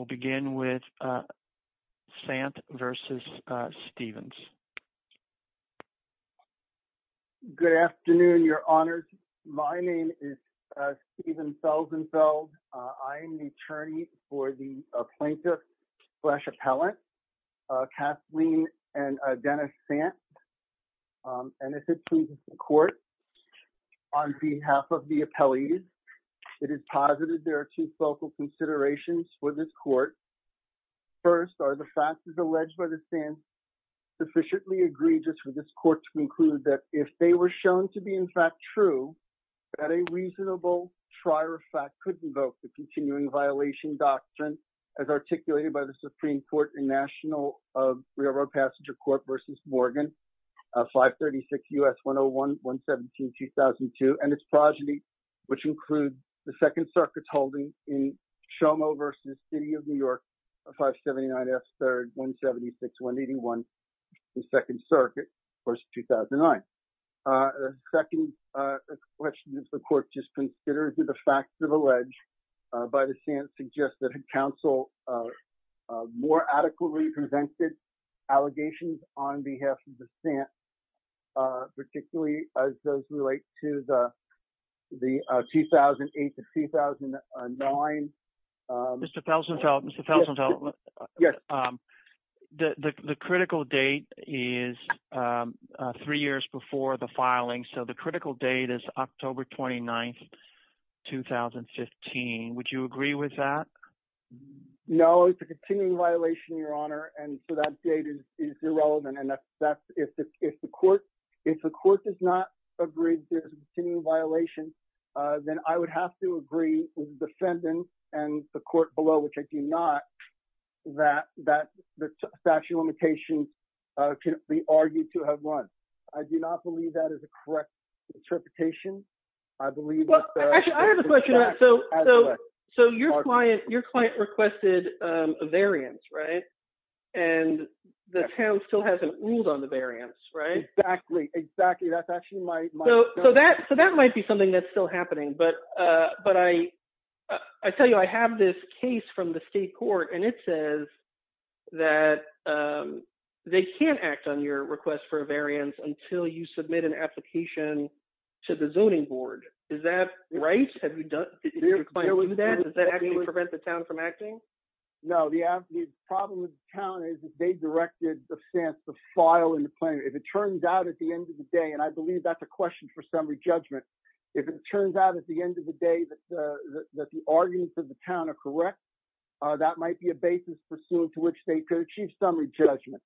will begin with Sant v. Stephens. Good afternoon, your honors. My name is Stephen Selzenfeld. I am the attorney for the plaintiff slash appellant, Kathleen and Dennis Sant. And this is the court on behalf of the appellees. It is positive there are two focal considerations for this court. First, are the factors alleged by the stand sufficiently egregious for this court to conclude that if they were shown to be in fact true, that a reasonable trier of fact could invoke the continuing violation doctrine as articulated by the Supreme Court and National Railroad Passenger Court versus Morgan, 536 U.S. 101-117-2002 and its progeny, which includes the Second Circuit's holding in Shomo v. City of New York, 579 F. 3rd, 176-181, the Second Circuit, of course, 2009. Second question is the court just considers that the facts that are alleged by the Sant suggest that counsel more adequately presented allegations on behalf of the Sant, particularly as those relate to the 2008 to 2009. Mr. Felsenfeld, Mr. Felsenfeld. Yes. The critical date is three years before the filing. So the critical date is October 29th, 2015. Would you agree with that? No, it's a continuing violation, Your Honor. And so that date is irrelevant. And if the court does not agree that it's a continuing violation, then I would have to agree with the defendant and the court below, which I do not, that the statute of limitations can be argued to have run. I do not believe that is a correct interpretation. I believe that the facts as such are correct. So your client requested a variance, right? And the town still hasn't ruled on the variance, right? Exactly, exactly. That's actually my- So that might be something that's still happening, but I tell you, I have this case from the state court, and it says that they can't act on your request for a variance until you submit an application to the zoning board. Is that right? Have you done that? Does that actually prevent the town from acting? No, the problem with the town is that they directed the stance to file in the plan. If it turns out at the end of the day, and I believe that's a question for summary judgment, if it turns out at the end of the day that the arguments of the town are correct, that might be a basis pursued to which they could achieve summary judgment.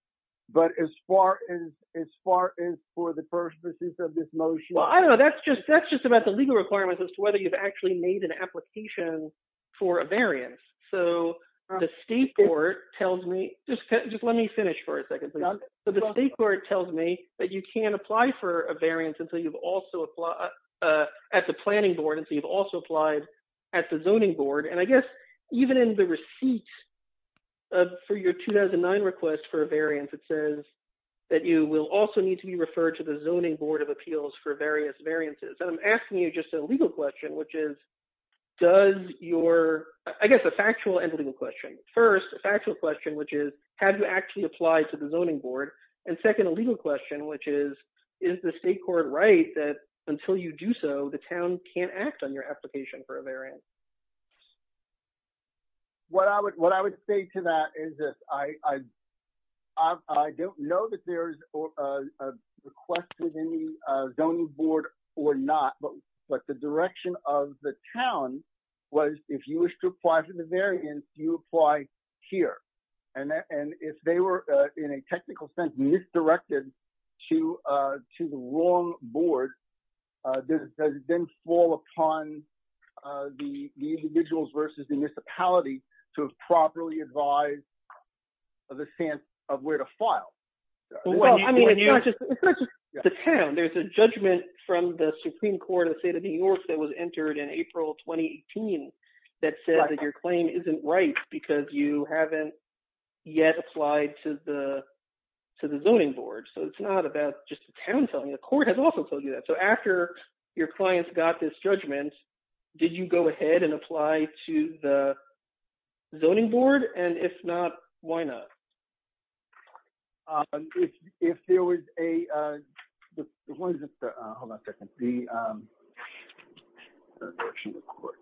But as far as for the purposes of this motion- Well, I don't know. That's just about the legal requirements as to whether you've actually made an application for a variance. So the state court tells me- Just let me finish for a second, please. So the state court tells me that you can't apply for a variance until you've also applied at the planning board, and so you've also applied at the zoning board. And I guess even in the receipt for your 2009 request for a variance, it says that you will also need to be referred to the zoning board of appeals for various variances. And I'm asking you just a legal question, which is, does your- I guess a factual and legal question. First, a factual question, which is, have you actually applied to the zoning board? And second, a legal question, which is, is the state court right that until you do so, the town can't act on your application for a variance? What I would say to that is this. I don't know that there's a request within the zoning board or not, but the direction of the town was, if you wish to apply for the variance, you apply here. And if they were, in a technical sense, misdirected to the wrong board, does it then fall upon the individuals versus the municipality to have properly advised the stance of where to file? I mean, it's not just the town. There's a judgment from the Supreme Court of the state of New York that was entered in April 2018 that said that your claim isn't right because you haven't yet applied to the zoning board. So it's not about just the town telling you. The court has also told you that. So after your clients got this judgment, did you go ahead and apply to the zoning board? And if not, why not? If there was a, hold on a second. The direction of the court.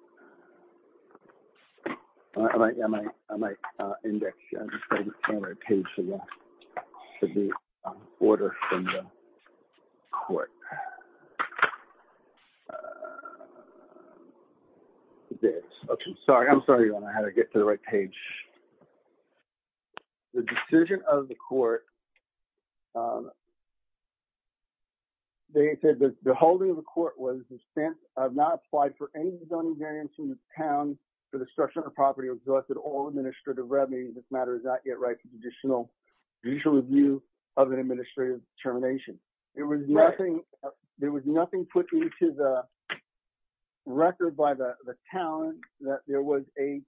I might index the page for the order from the court. Okay, I'm sorry. I'm sorry I don't know how to get to the right page. The decision of the court, they said that the holding of the court was the stance of not applied for any zoning variance in the town for destruction of property or exhausted all administrative revenue. This matter is not yet right for judicial review of an administrative termination. There was nothing put into the record by the town that there was a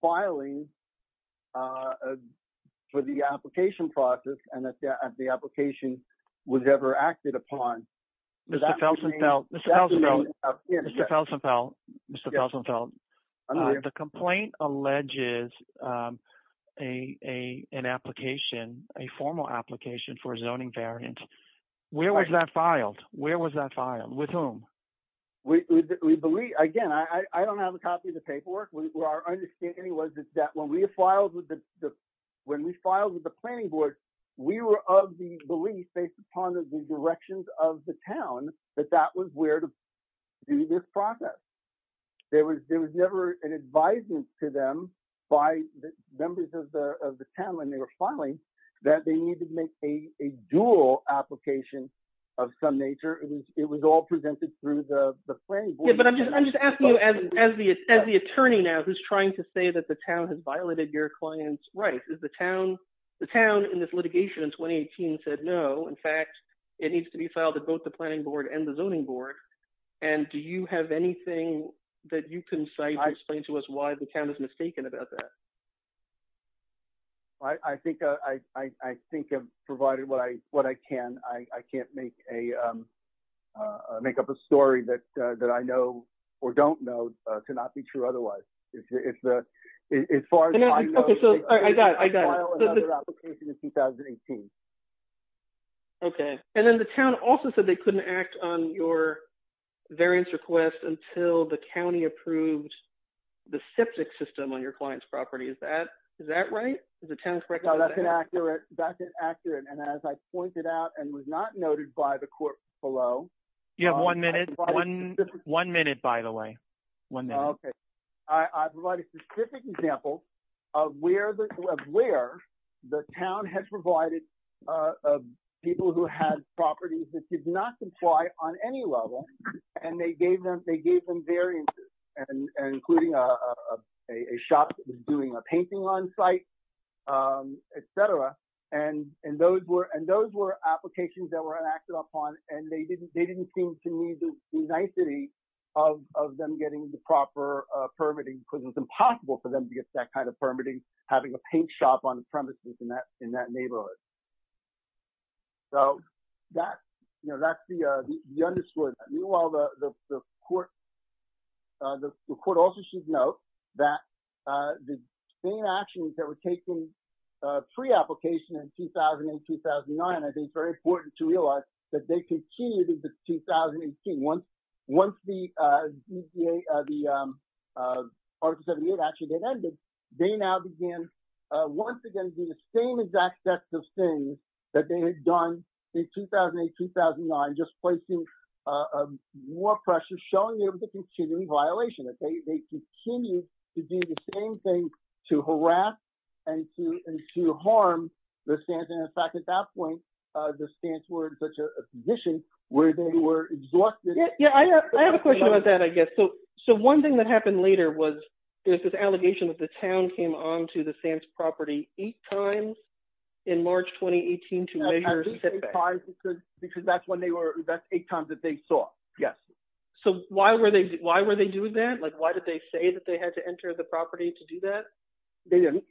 filing for the application process and that the application was ever acted upon. Does that mean? Mr. Felsenfeld, Mr. Felsenfeld, Mr. Felsenfeld. The complaint alleges an application, a formal application for a zoning variance. Where was that filed? Where was that filed? With whom? We believe, again, I don't have a copy of the paperwork. What our understanding was is that when we filed with the planning board, we were of the belief based upon the directions of the town that that was where to do this process. There was never an advisement to them by the members of the town when they were filing that they needed to make a dual application of some nature. It was all presented through the planning board. Yeah, but I'm just asking you as the attorney now who's trying to say that the town has violated your client's rights. Is the town in this litigation in 2018 said, no, in fact, it needs to be filed at both the planning board and the zoning board. And do you have anything that you can say to explain to us why the town is mistaken about that? I think I've provided what I can. I can't make up a story that I know or don't know to not be true otherwise. As far as I know, I filed another application in 2018. Okay, and then the town also said they couldn't act on your variance request until the county approved the septic system on your client's property. Is that right? Is the town correct? No, that's inaccurate. That's inaccurate. And as I pointed out and was not noted by the court below. You have one minute, one minute, by the way. One minute. I provide a specific example of where the town has provided people who had properties that did not comply on any level. And they gave them variances, and including a shop doing a painting on site, et cetera. And those were applications that were enacted upon, and they didn't seem to need the nicety of them getting the proper permitting, because it's impossible for them to get that kind of permitting, having a paint shop on the premises in that neighborhood. So that's the underscore. Meanwhile, the court also should note that the same actions that were taken pre-application in 2008-2009, I think very important to realize that they continued in the 2018. Once the Article 78 action had ended, they now began, once again, doing the same exact sets of things that they had done in 2008-2009, just placing more pressure, showing them the continuing violation. They continued to do the same thing to harass and to harm the Stanton. In fact, at that point, the Stanton were in such a position where they were exhausted. Yeah, I have a question about that, I guess. So one thing that happened later was, there's this allegation that the town came on to the Stanton property eight times in March 2018 to measure sit-backs. Because that's eight times that they saw, yes. So why were they doing that? Like, why did they say that they had to enter the property to do that? They didn't,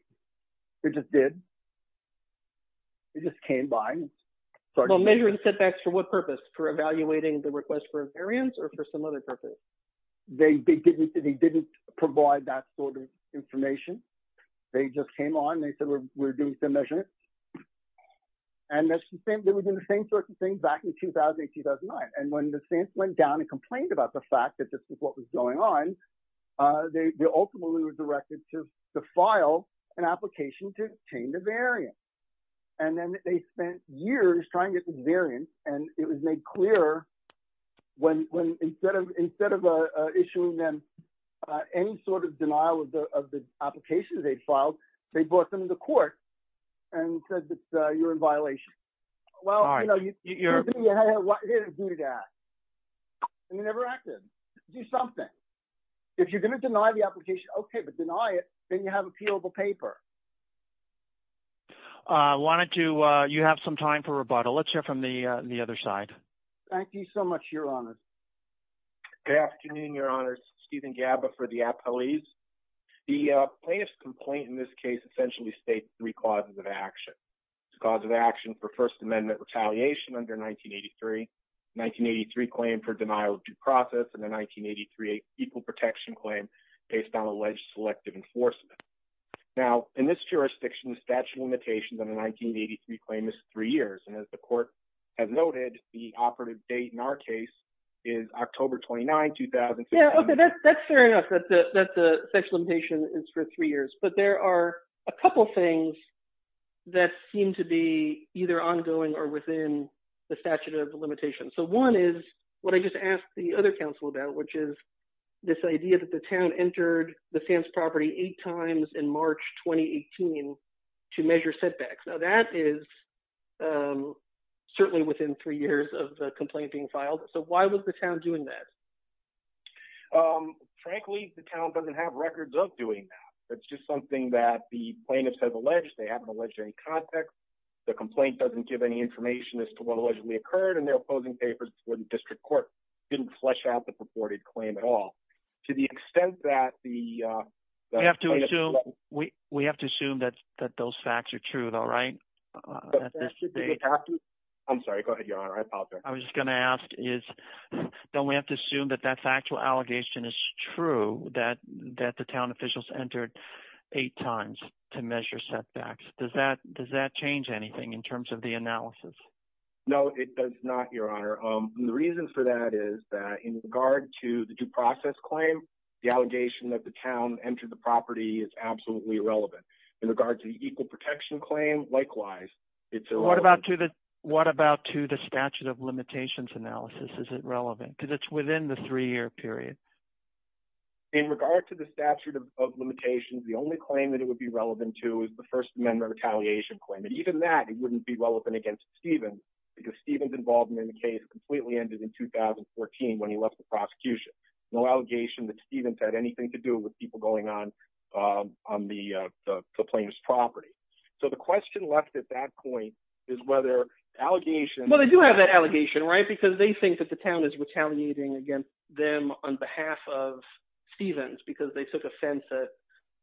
they just did. They just came by. Well, measuring sit-backs for what purpose? For evaluating the request for a variance or for some other purpose? They didn't provide that sort of information. They just came on and they said, we're doing some measurements. And they were doing the same sorts of things back in 2008-2009. And when the Stanton went down and complained about the fact that this is what was going on, they ultimately were directed to file an application to obtain the variance. And then they spent years trying to get the variance and it was made clear when, instead of issuing them any sort of denial of the applications they'd filed, they brought them to the court and said that you're in violation. Well, you know, you're, what are you gonna do to that? You never acted. Do something. If you're gonna deny the application, okay, but deny it, then you have a peelable paper. Why don't you, you have some time for rebuttal. Let's hear from the other side. Thank you so much, Your Honor. Good afternoon, Your Honor. Stephen Gabba for the appellees. The plaintiff's complaint in this case essentially states three causes of action. The cause of action for First Amendment retaliation under 1983, 1983 claim for denial of due process, and the 1983 equal protection claim based on alleged selective enforcement. Now, in this jurisdiction, the statute of limitations under 1983 claim is three years. And as the court has noted, the operative date in our case is October 29, 2016. Yeah, okay, that's fair enough that the statute of limitations is for three years. But there are a couple things that seem to be either ongoing or within the statute of limitations. So one is what I just asked the other counsel about, which is this idea that the town entered the Sam's property eight times in March, 2018 to measure setbacks. Now that is certainly within three years of the complaint being filed. So why was the town doing that? Frankly, the town doesn't have records of doing that. That's just something that the plaintiffs have alleged. They haven't alleged any context. The complaint doesn't give any information as to what allegedly occurred and they're opposing papers for the district court. Didn't flesh out the purported claim at all. To the extent that the plaintiffs- We have to assume that those facts are true though, right? At this date. I'm sorry, go ahead, Your Honor, I apologize. I was just gonna ask is, don't we have to assume that that factual allegation is true that the town officials entered eight times to measure setbacks? Does that change anything in terms of the analysis? No, it does not, Your Honor. And the reason for that is that in regard to the due process claim, the allegation that the town entered the property is absolutely irrelevant. In regard to the equal protection claim, likewise, it's irrelevant. What about to the statute of limitations analysis? Is it relevant? Because it's within the three year period. In regard to the statute of limitations, the only claim that it would be relevant to is the First Amendment retaliation claim. And even that, it wouldn't be relevant against Stephen because Stephen's involvement in the case completely ended in 2014 when he left the prosecution. No allegation that Stephen's had anything to do with people going on the plaintiff's property. So the question left at that point is whether allegations- Well, they do have that allegation, right? Because they think that the town is retaliating against them on behalf of Stephen's because they took offense at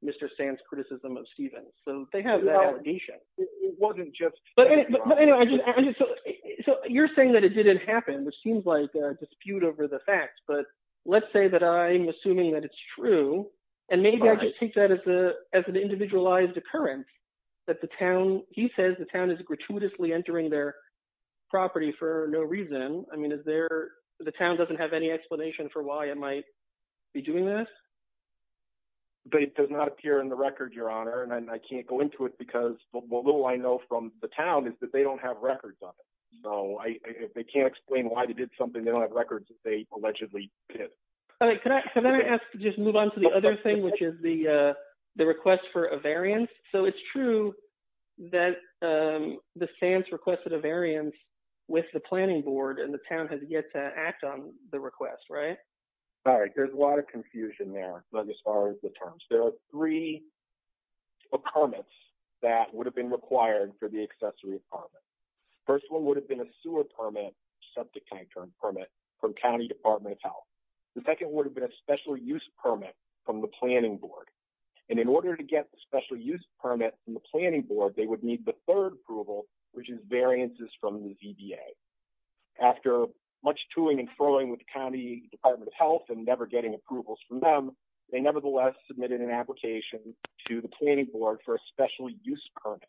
Mr. Sand's criticism of Stephen. So they have that allegation. It wasn't just- But anyway, so you're saying that it didn't happen, which seems like a dispute over the facts, but let's say that I'm assuming that it's true. And maybe I could take that as an individualized occurrence that the town, he says the town is gratuitously entering their property for no reason. I mean, is there, the town doesn't have any explanation for why it might be doing this? But it does not appear in the record, Your Honor. And I can't go into it because the little I know from the town is that they don't have records on it. So if they can't explain why they did something, they don't have records that they allegedly did. All right, can I ask to just move on to the other thing, which is the request for a variance. So it's true that the Sands requested a variance with the planning board and the town has yet to act on the request, right? All right, there's a lot of confusion there as far as the terms. There are three permits that would have been required for the accessory apartment. First one would have been a sewer permit, septic tank term permit from County Department of Health. The second would have been a special use permit from the planning board. And in order to get the special use permit from the planning board, they would need the third approval, which is variances from the VBA. After much toing and froing with the County Department of Health and never getting approvals from them, they nevertheless submitted an application to the planning board for a special use permit.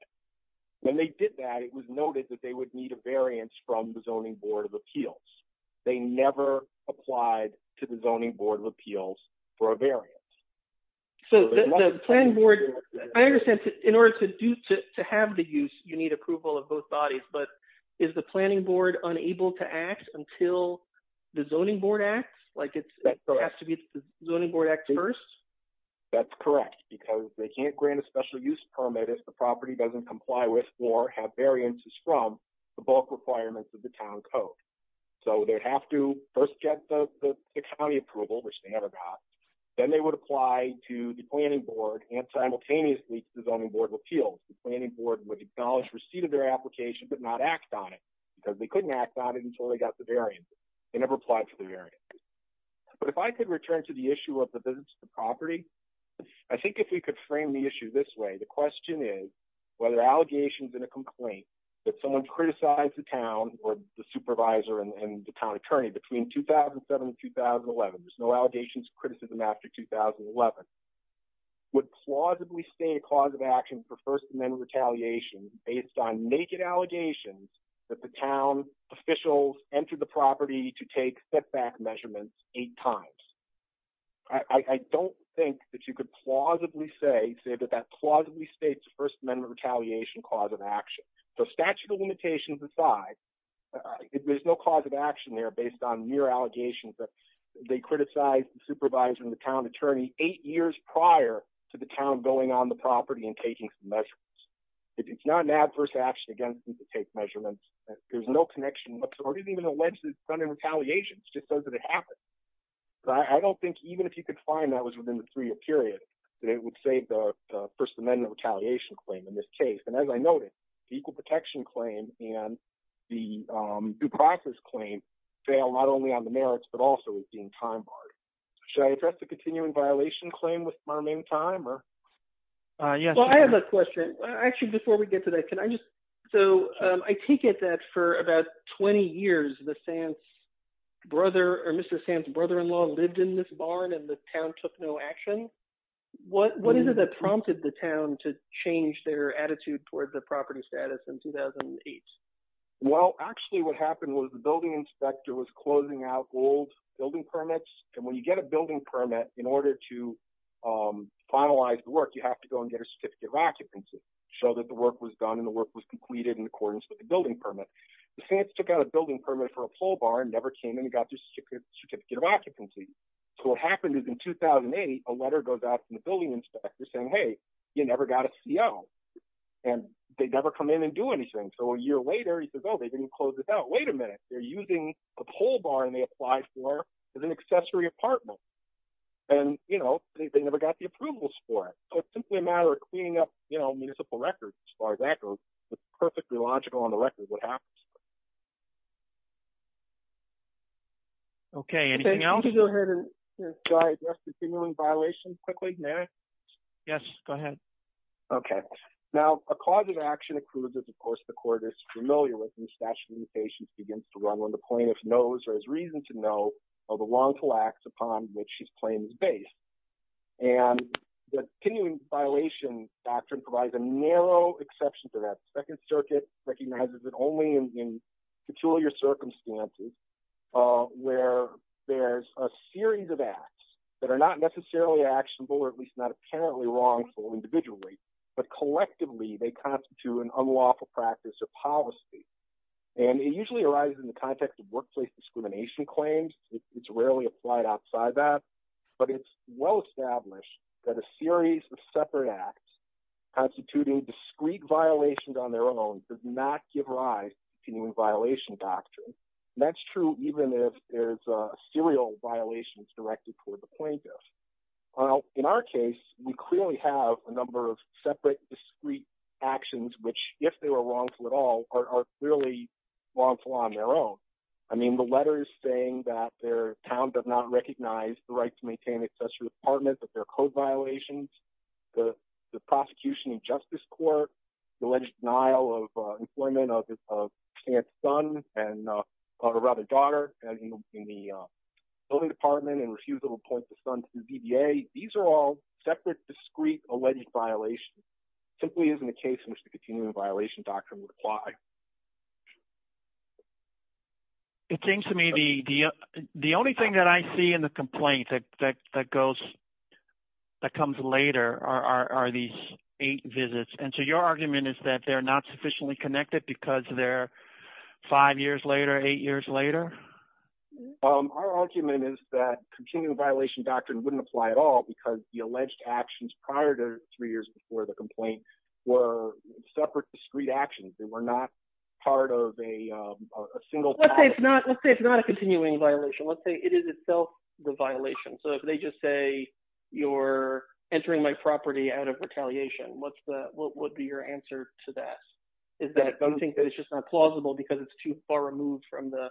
When they did that, it was noted that they would need a variance from the Zoning Board of Appeals. They never applied to the Zoning Board of Appeals for a variance. So the planning board, I understand in order to have the use, you need approval of both bodies, but is the planning board unable to act until the Zoning Board acts? Like it has to be the Zoning Board acts first? That's correct, because they can't grant a special use permit if the property doesn't comply with or have variances from the bulk requirements of the town code. So they'd have to first get the county approval, which they never got. Then they would apply to the planning board and simultaneously to the Zoning Board of Appeals. The planning board would acknowledge receipt of their application, but not act on it, because they couldn't act on it until they got the variance. They never applied for the variance. But if I could return to the issue of the visits to the property, I think if we could frame the issue this way, the question is, whether allegations in a complaint that someone criticized the town or the supervisor and the town attorney between 2007 and 2011, there's no allegations criticism after 2011, would plausibly state a cause of action for First Amendment retaliation based on naked allegations that the town officials entered the property to take setback measurements eight times. I don't think that you could plausibly say that that plausibly states First Amendment retaliation cause of action. So statute of limitations aside, there's no cause of action there based on mere allegations that they criticized the supervisor and the town attorney eight years prior to the town going on the property and taking some measurements. If it's not an adverse action against them to take measurements, there's no connection, or didn't even allege this kind of retaliation, it's just so that it happened. But I don't think even if you could find that was within the three year period, that it would save the First Amendment retaliation claim in this case. And as I noted, the equal protection claim and the due process claim fail not only on the merits, but also is being time barred. Should I address the continuing violation claim with my main time or? Yes. Well, I have a question. Actually, before we get to that, can I just, so I take it that for about 20 years, the Sands brother or Mr. Sands brother-in-law lived in this barn and the town took no action. What is it that prompted the town to change their attitude towards the property status in 2008? Well, actually what happened was the building inspector was closing out old building permits. And when you get a building permit in order to finalize the work, you have to go and get a certificate of occupancy, show that the work was done and the work was completed in accordance with the building permit. The Sands took out a building permit for a pole bar and never came in and got the certificate of occupancy. So what happened is in 2008, a letter goes out from the building inspector saying, hey, you never got a CO and they never come in and do anything. So a year later he says, oh, they didn't close this out. Wait a minute, they're using the pole bar and they applied for it as an accessory apartment. And they never got the approvals for it. So it's simply a matter of cleaning up municipal records as far as that goes. It's perfectly logical on the record what happens. Okay, anything else? I think we can go ahead and try to address the simulant violation quickly, may I? Yes, go ahead. Okay, now a cause of action accrues is of course the court is familiar with when statute of limitations begins to run when the plaintiff knows or has reason to know of the wrongful acts upon which his claim is based. And the continuing violation doctrine provides a narrow exception to that. Second circuit recognizes it only in peculiar circumstances where there's a series of acts that are not necessarily actionable or at least not apparently wrongful individually, but collectively they constitute an unlawful practice or policy. And it usually arises in the context of workplace discrimination claims. It's rarely applied outside that, but it's well-established that a series of separate acts constituting discrete violations on their own does not give rise to new violation doctrine. That's true even if there's a serial violations directed toward the plaintiff. Well, in our case, we clearly have a number of separate discrete actions, which if they were wrongful at all are clearly wrongful on their own. I mean, the letter is saying that their town does not recognize the right to maintain access to the apartment, that there are code violations, the prosecution and justice court, the alleged denial of employment of his son and a rather daughter in the building department and refusal to appoint the son to the DBA. These are all separate discrete alleged violations. Simply isn't a case in which the continuing violation doctrine would apply. It seems to me the only thing that I see in the complaint that comes later are these eight visits. And so your argument is that they're not sufficiently connected because they're five years later, eight years later? Our argument is that continuing violation doctrine wouldn't apply at all because the alleged actions prior to three years before the complaint were separate discrete actions. They were not part of a single- Let's say it's not a continuing violation. Let's say it is itself the violation. So if they just say, you're entering my property out of retaliation, what would be your answer to that? Is that don't think that it's just not plausible because it's too far removed from the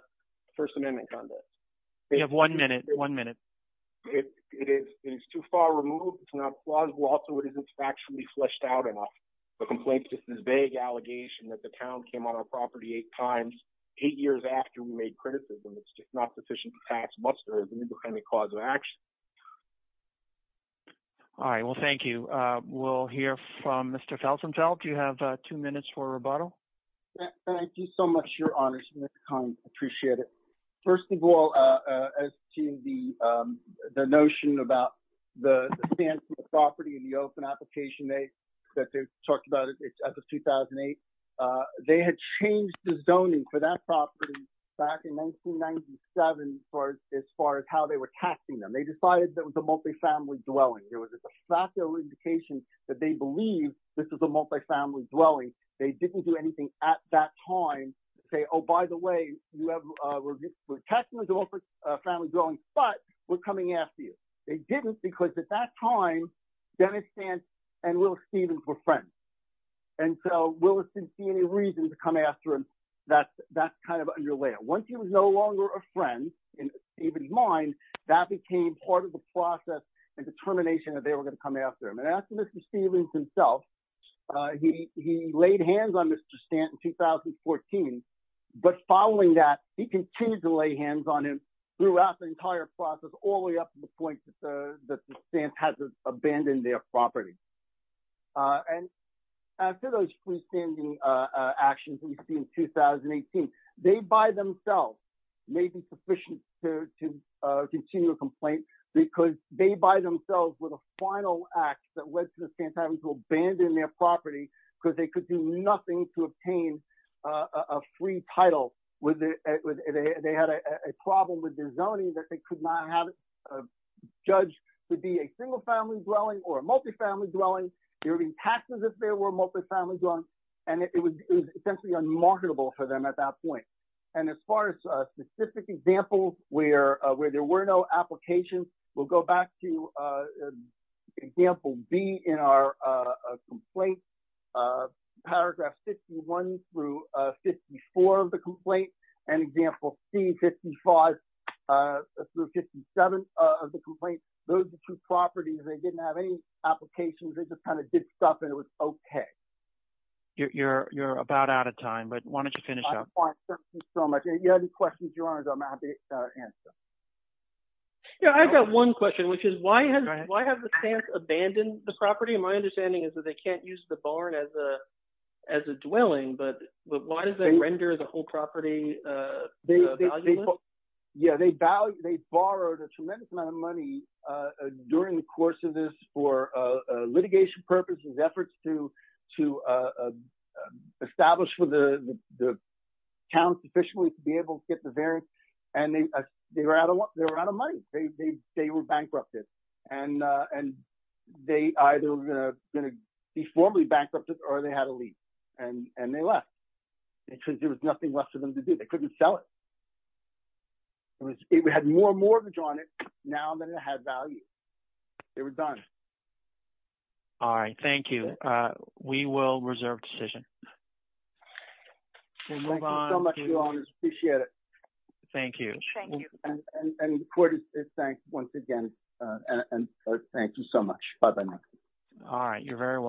first amendment conduct. You have one minute, one minute. It is too far removed. It's not plausible. Also, it isn't factually fleshed out enough. The complaint's just this vague allegation that the town came on our property eight times, eight years after we made criticism. It's just not sufficient to tax what's there as an independent cause of action. All right, well, thank you. We'll hear from Mr. Felsenfeld. You have two minutes for rebuttal. Thank you so much, your honors. Mr. Kahn, I appreciate it. First of all, as to the notion about the stance of the property in the open application, that they've talked about it as of 2008, they had changed the zoning for that property back in 1997 as far as how they were taxing them. They decided that it was a multifamily dwelling. It was a factual indication that they believe this is a multifamily dwelling. They didn't do anything at that time to say, oh, by the way, we're taxing the multifamily dwelling, but we're coming after you. They didn't because at that time, Dennis Stanton and Willis Stevens were friends. And so Willis didn't see any reason to come after him. That's kind of underlay it. Once he was no longer a friend in Stevens' mind, that became part of the process and determination that they were gonna come after him. And after Mr. Stevens himself, he laid hands on Mr. Stanton in 2014, but following that, he continued to lay hands on him throughout the entire process, all the way up to the point that the Stanton has abandoned their property. And after those freestanding actions we see in 2018, they by themselves may be sufficient to continue a complaint because they by themselves were the final act that led to the Stanton having to abandon their property because they could do nothing to obtain a free title. They had a problem with their zoning that they could not have judged to be a single family dwelling or a multifamily dwelling. They were being taxed as if they were a multifamily dwelling and it was essentially unmarketable for them at that point. And as far as specific examples where there were no applications, we'll go back to example B in our complaint, paragraph 51 through 54 of the complaint and example C, 55 through 57 of the complaint, those are two properties, they didn't have any applications, they just kind of did stuff and it was okay. You're about out of time, but why don't you finish up? I'm fine, thank you so much. If you have any questions, your honors, I'm happy to answer. Yeah, I've got one question, which is why has the Stanton abandoned the property? My understanding is that they can't use the barn as a dwelling, but why does that render the whole property valuable? Yeah, they borrowed a tremendous amount of money during the course of this for litigation purposes, efforts to establish for the town officially to be able to get the variance and they were out of money, they were bankrupted and they either gonna be formally bankrupted or they had a lease and they left because there was nothing left for them to do, they couldn't sell it. It had more mortgage on it now than it had value, they were done. All right, thank you. We will reserve decision. We'll move on. Thank you so much, your honors, appreciate it. Thank you. Thank you. And the court is thanked once again and thank you so much, bye-bye. All right, you're very welcome.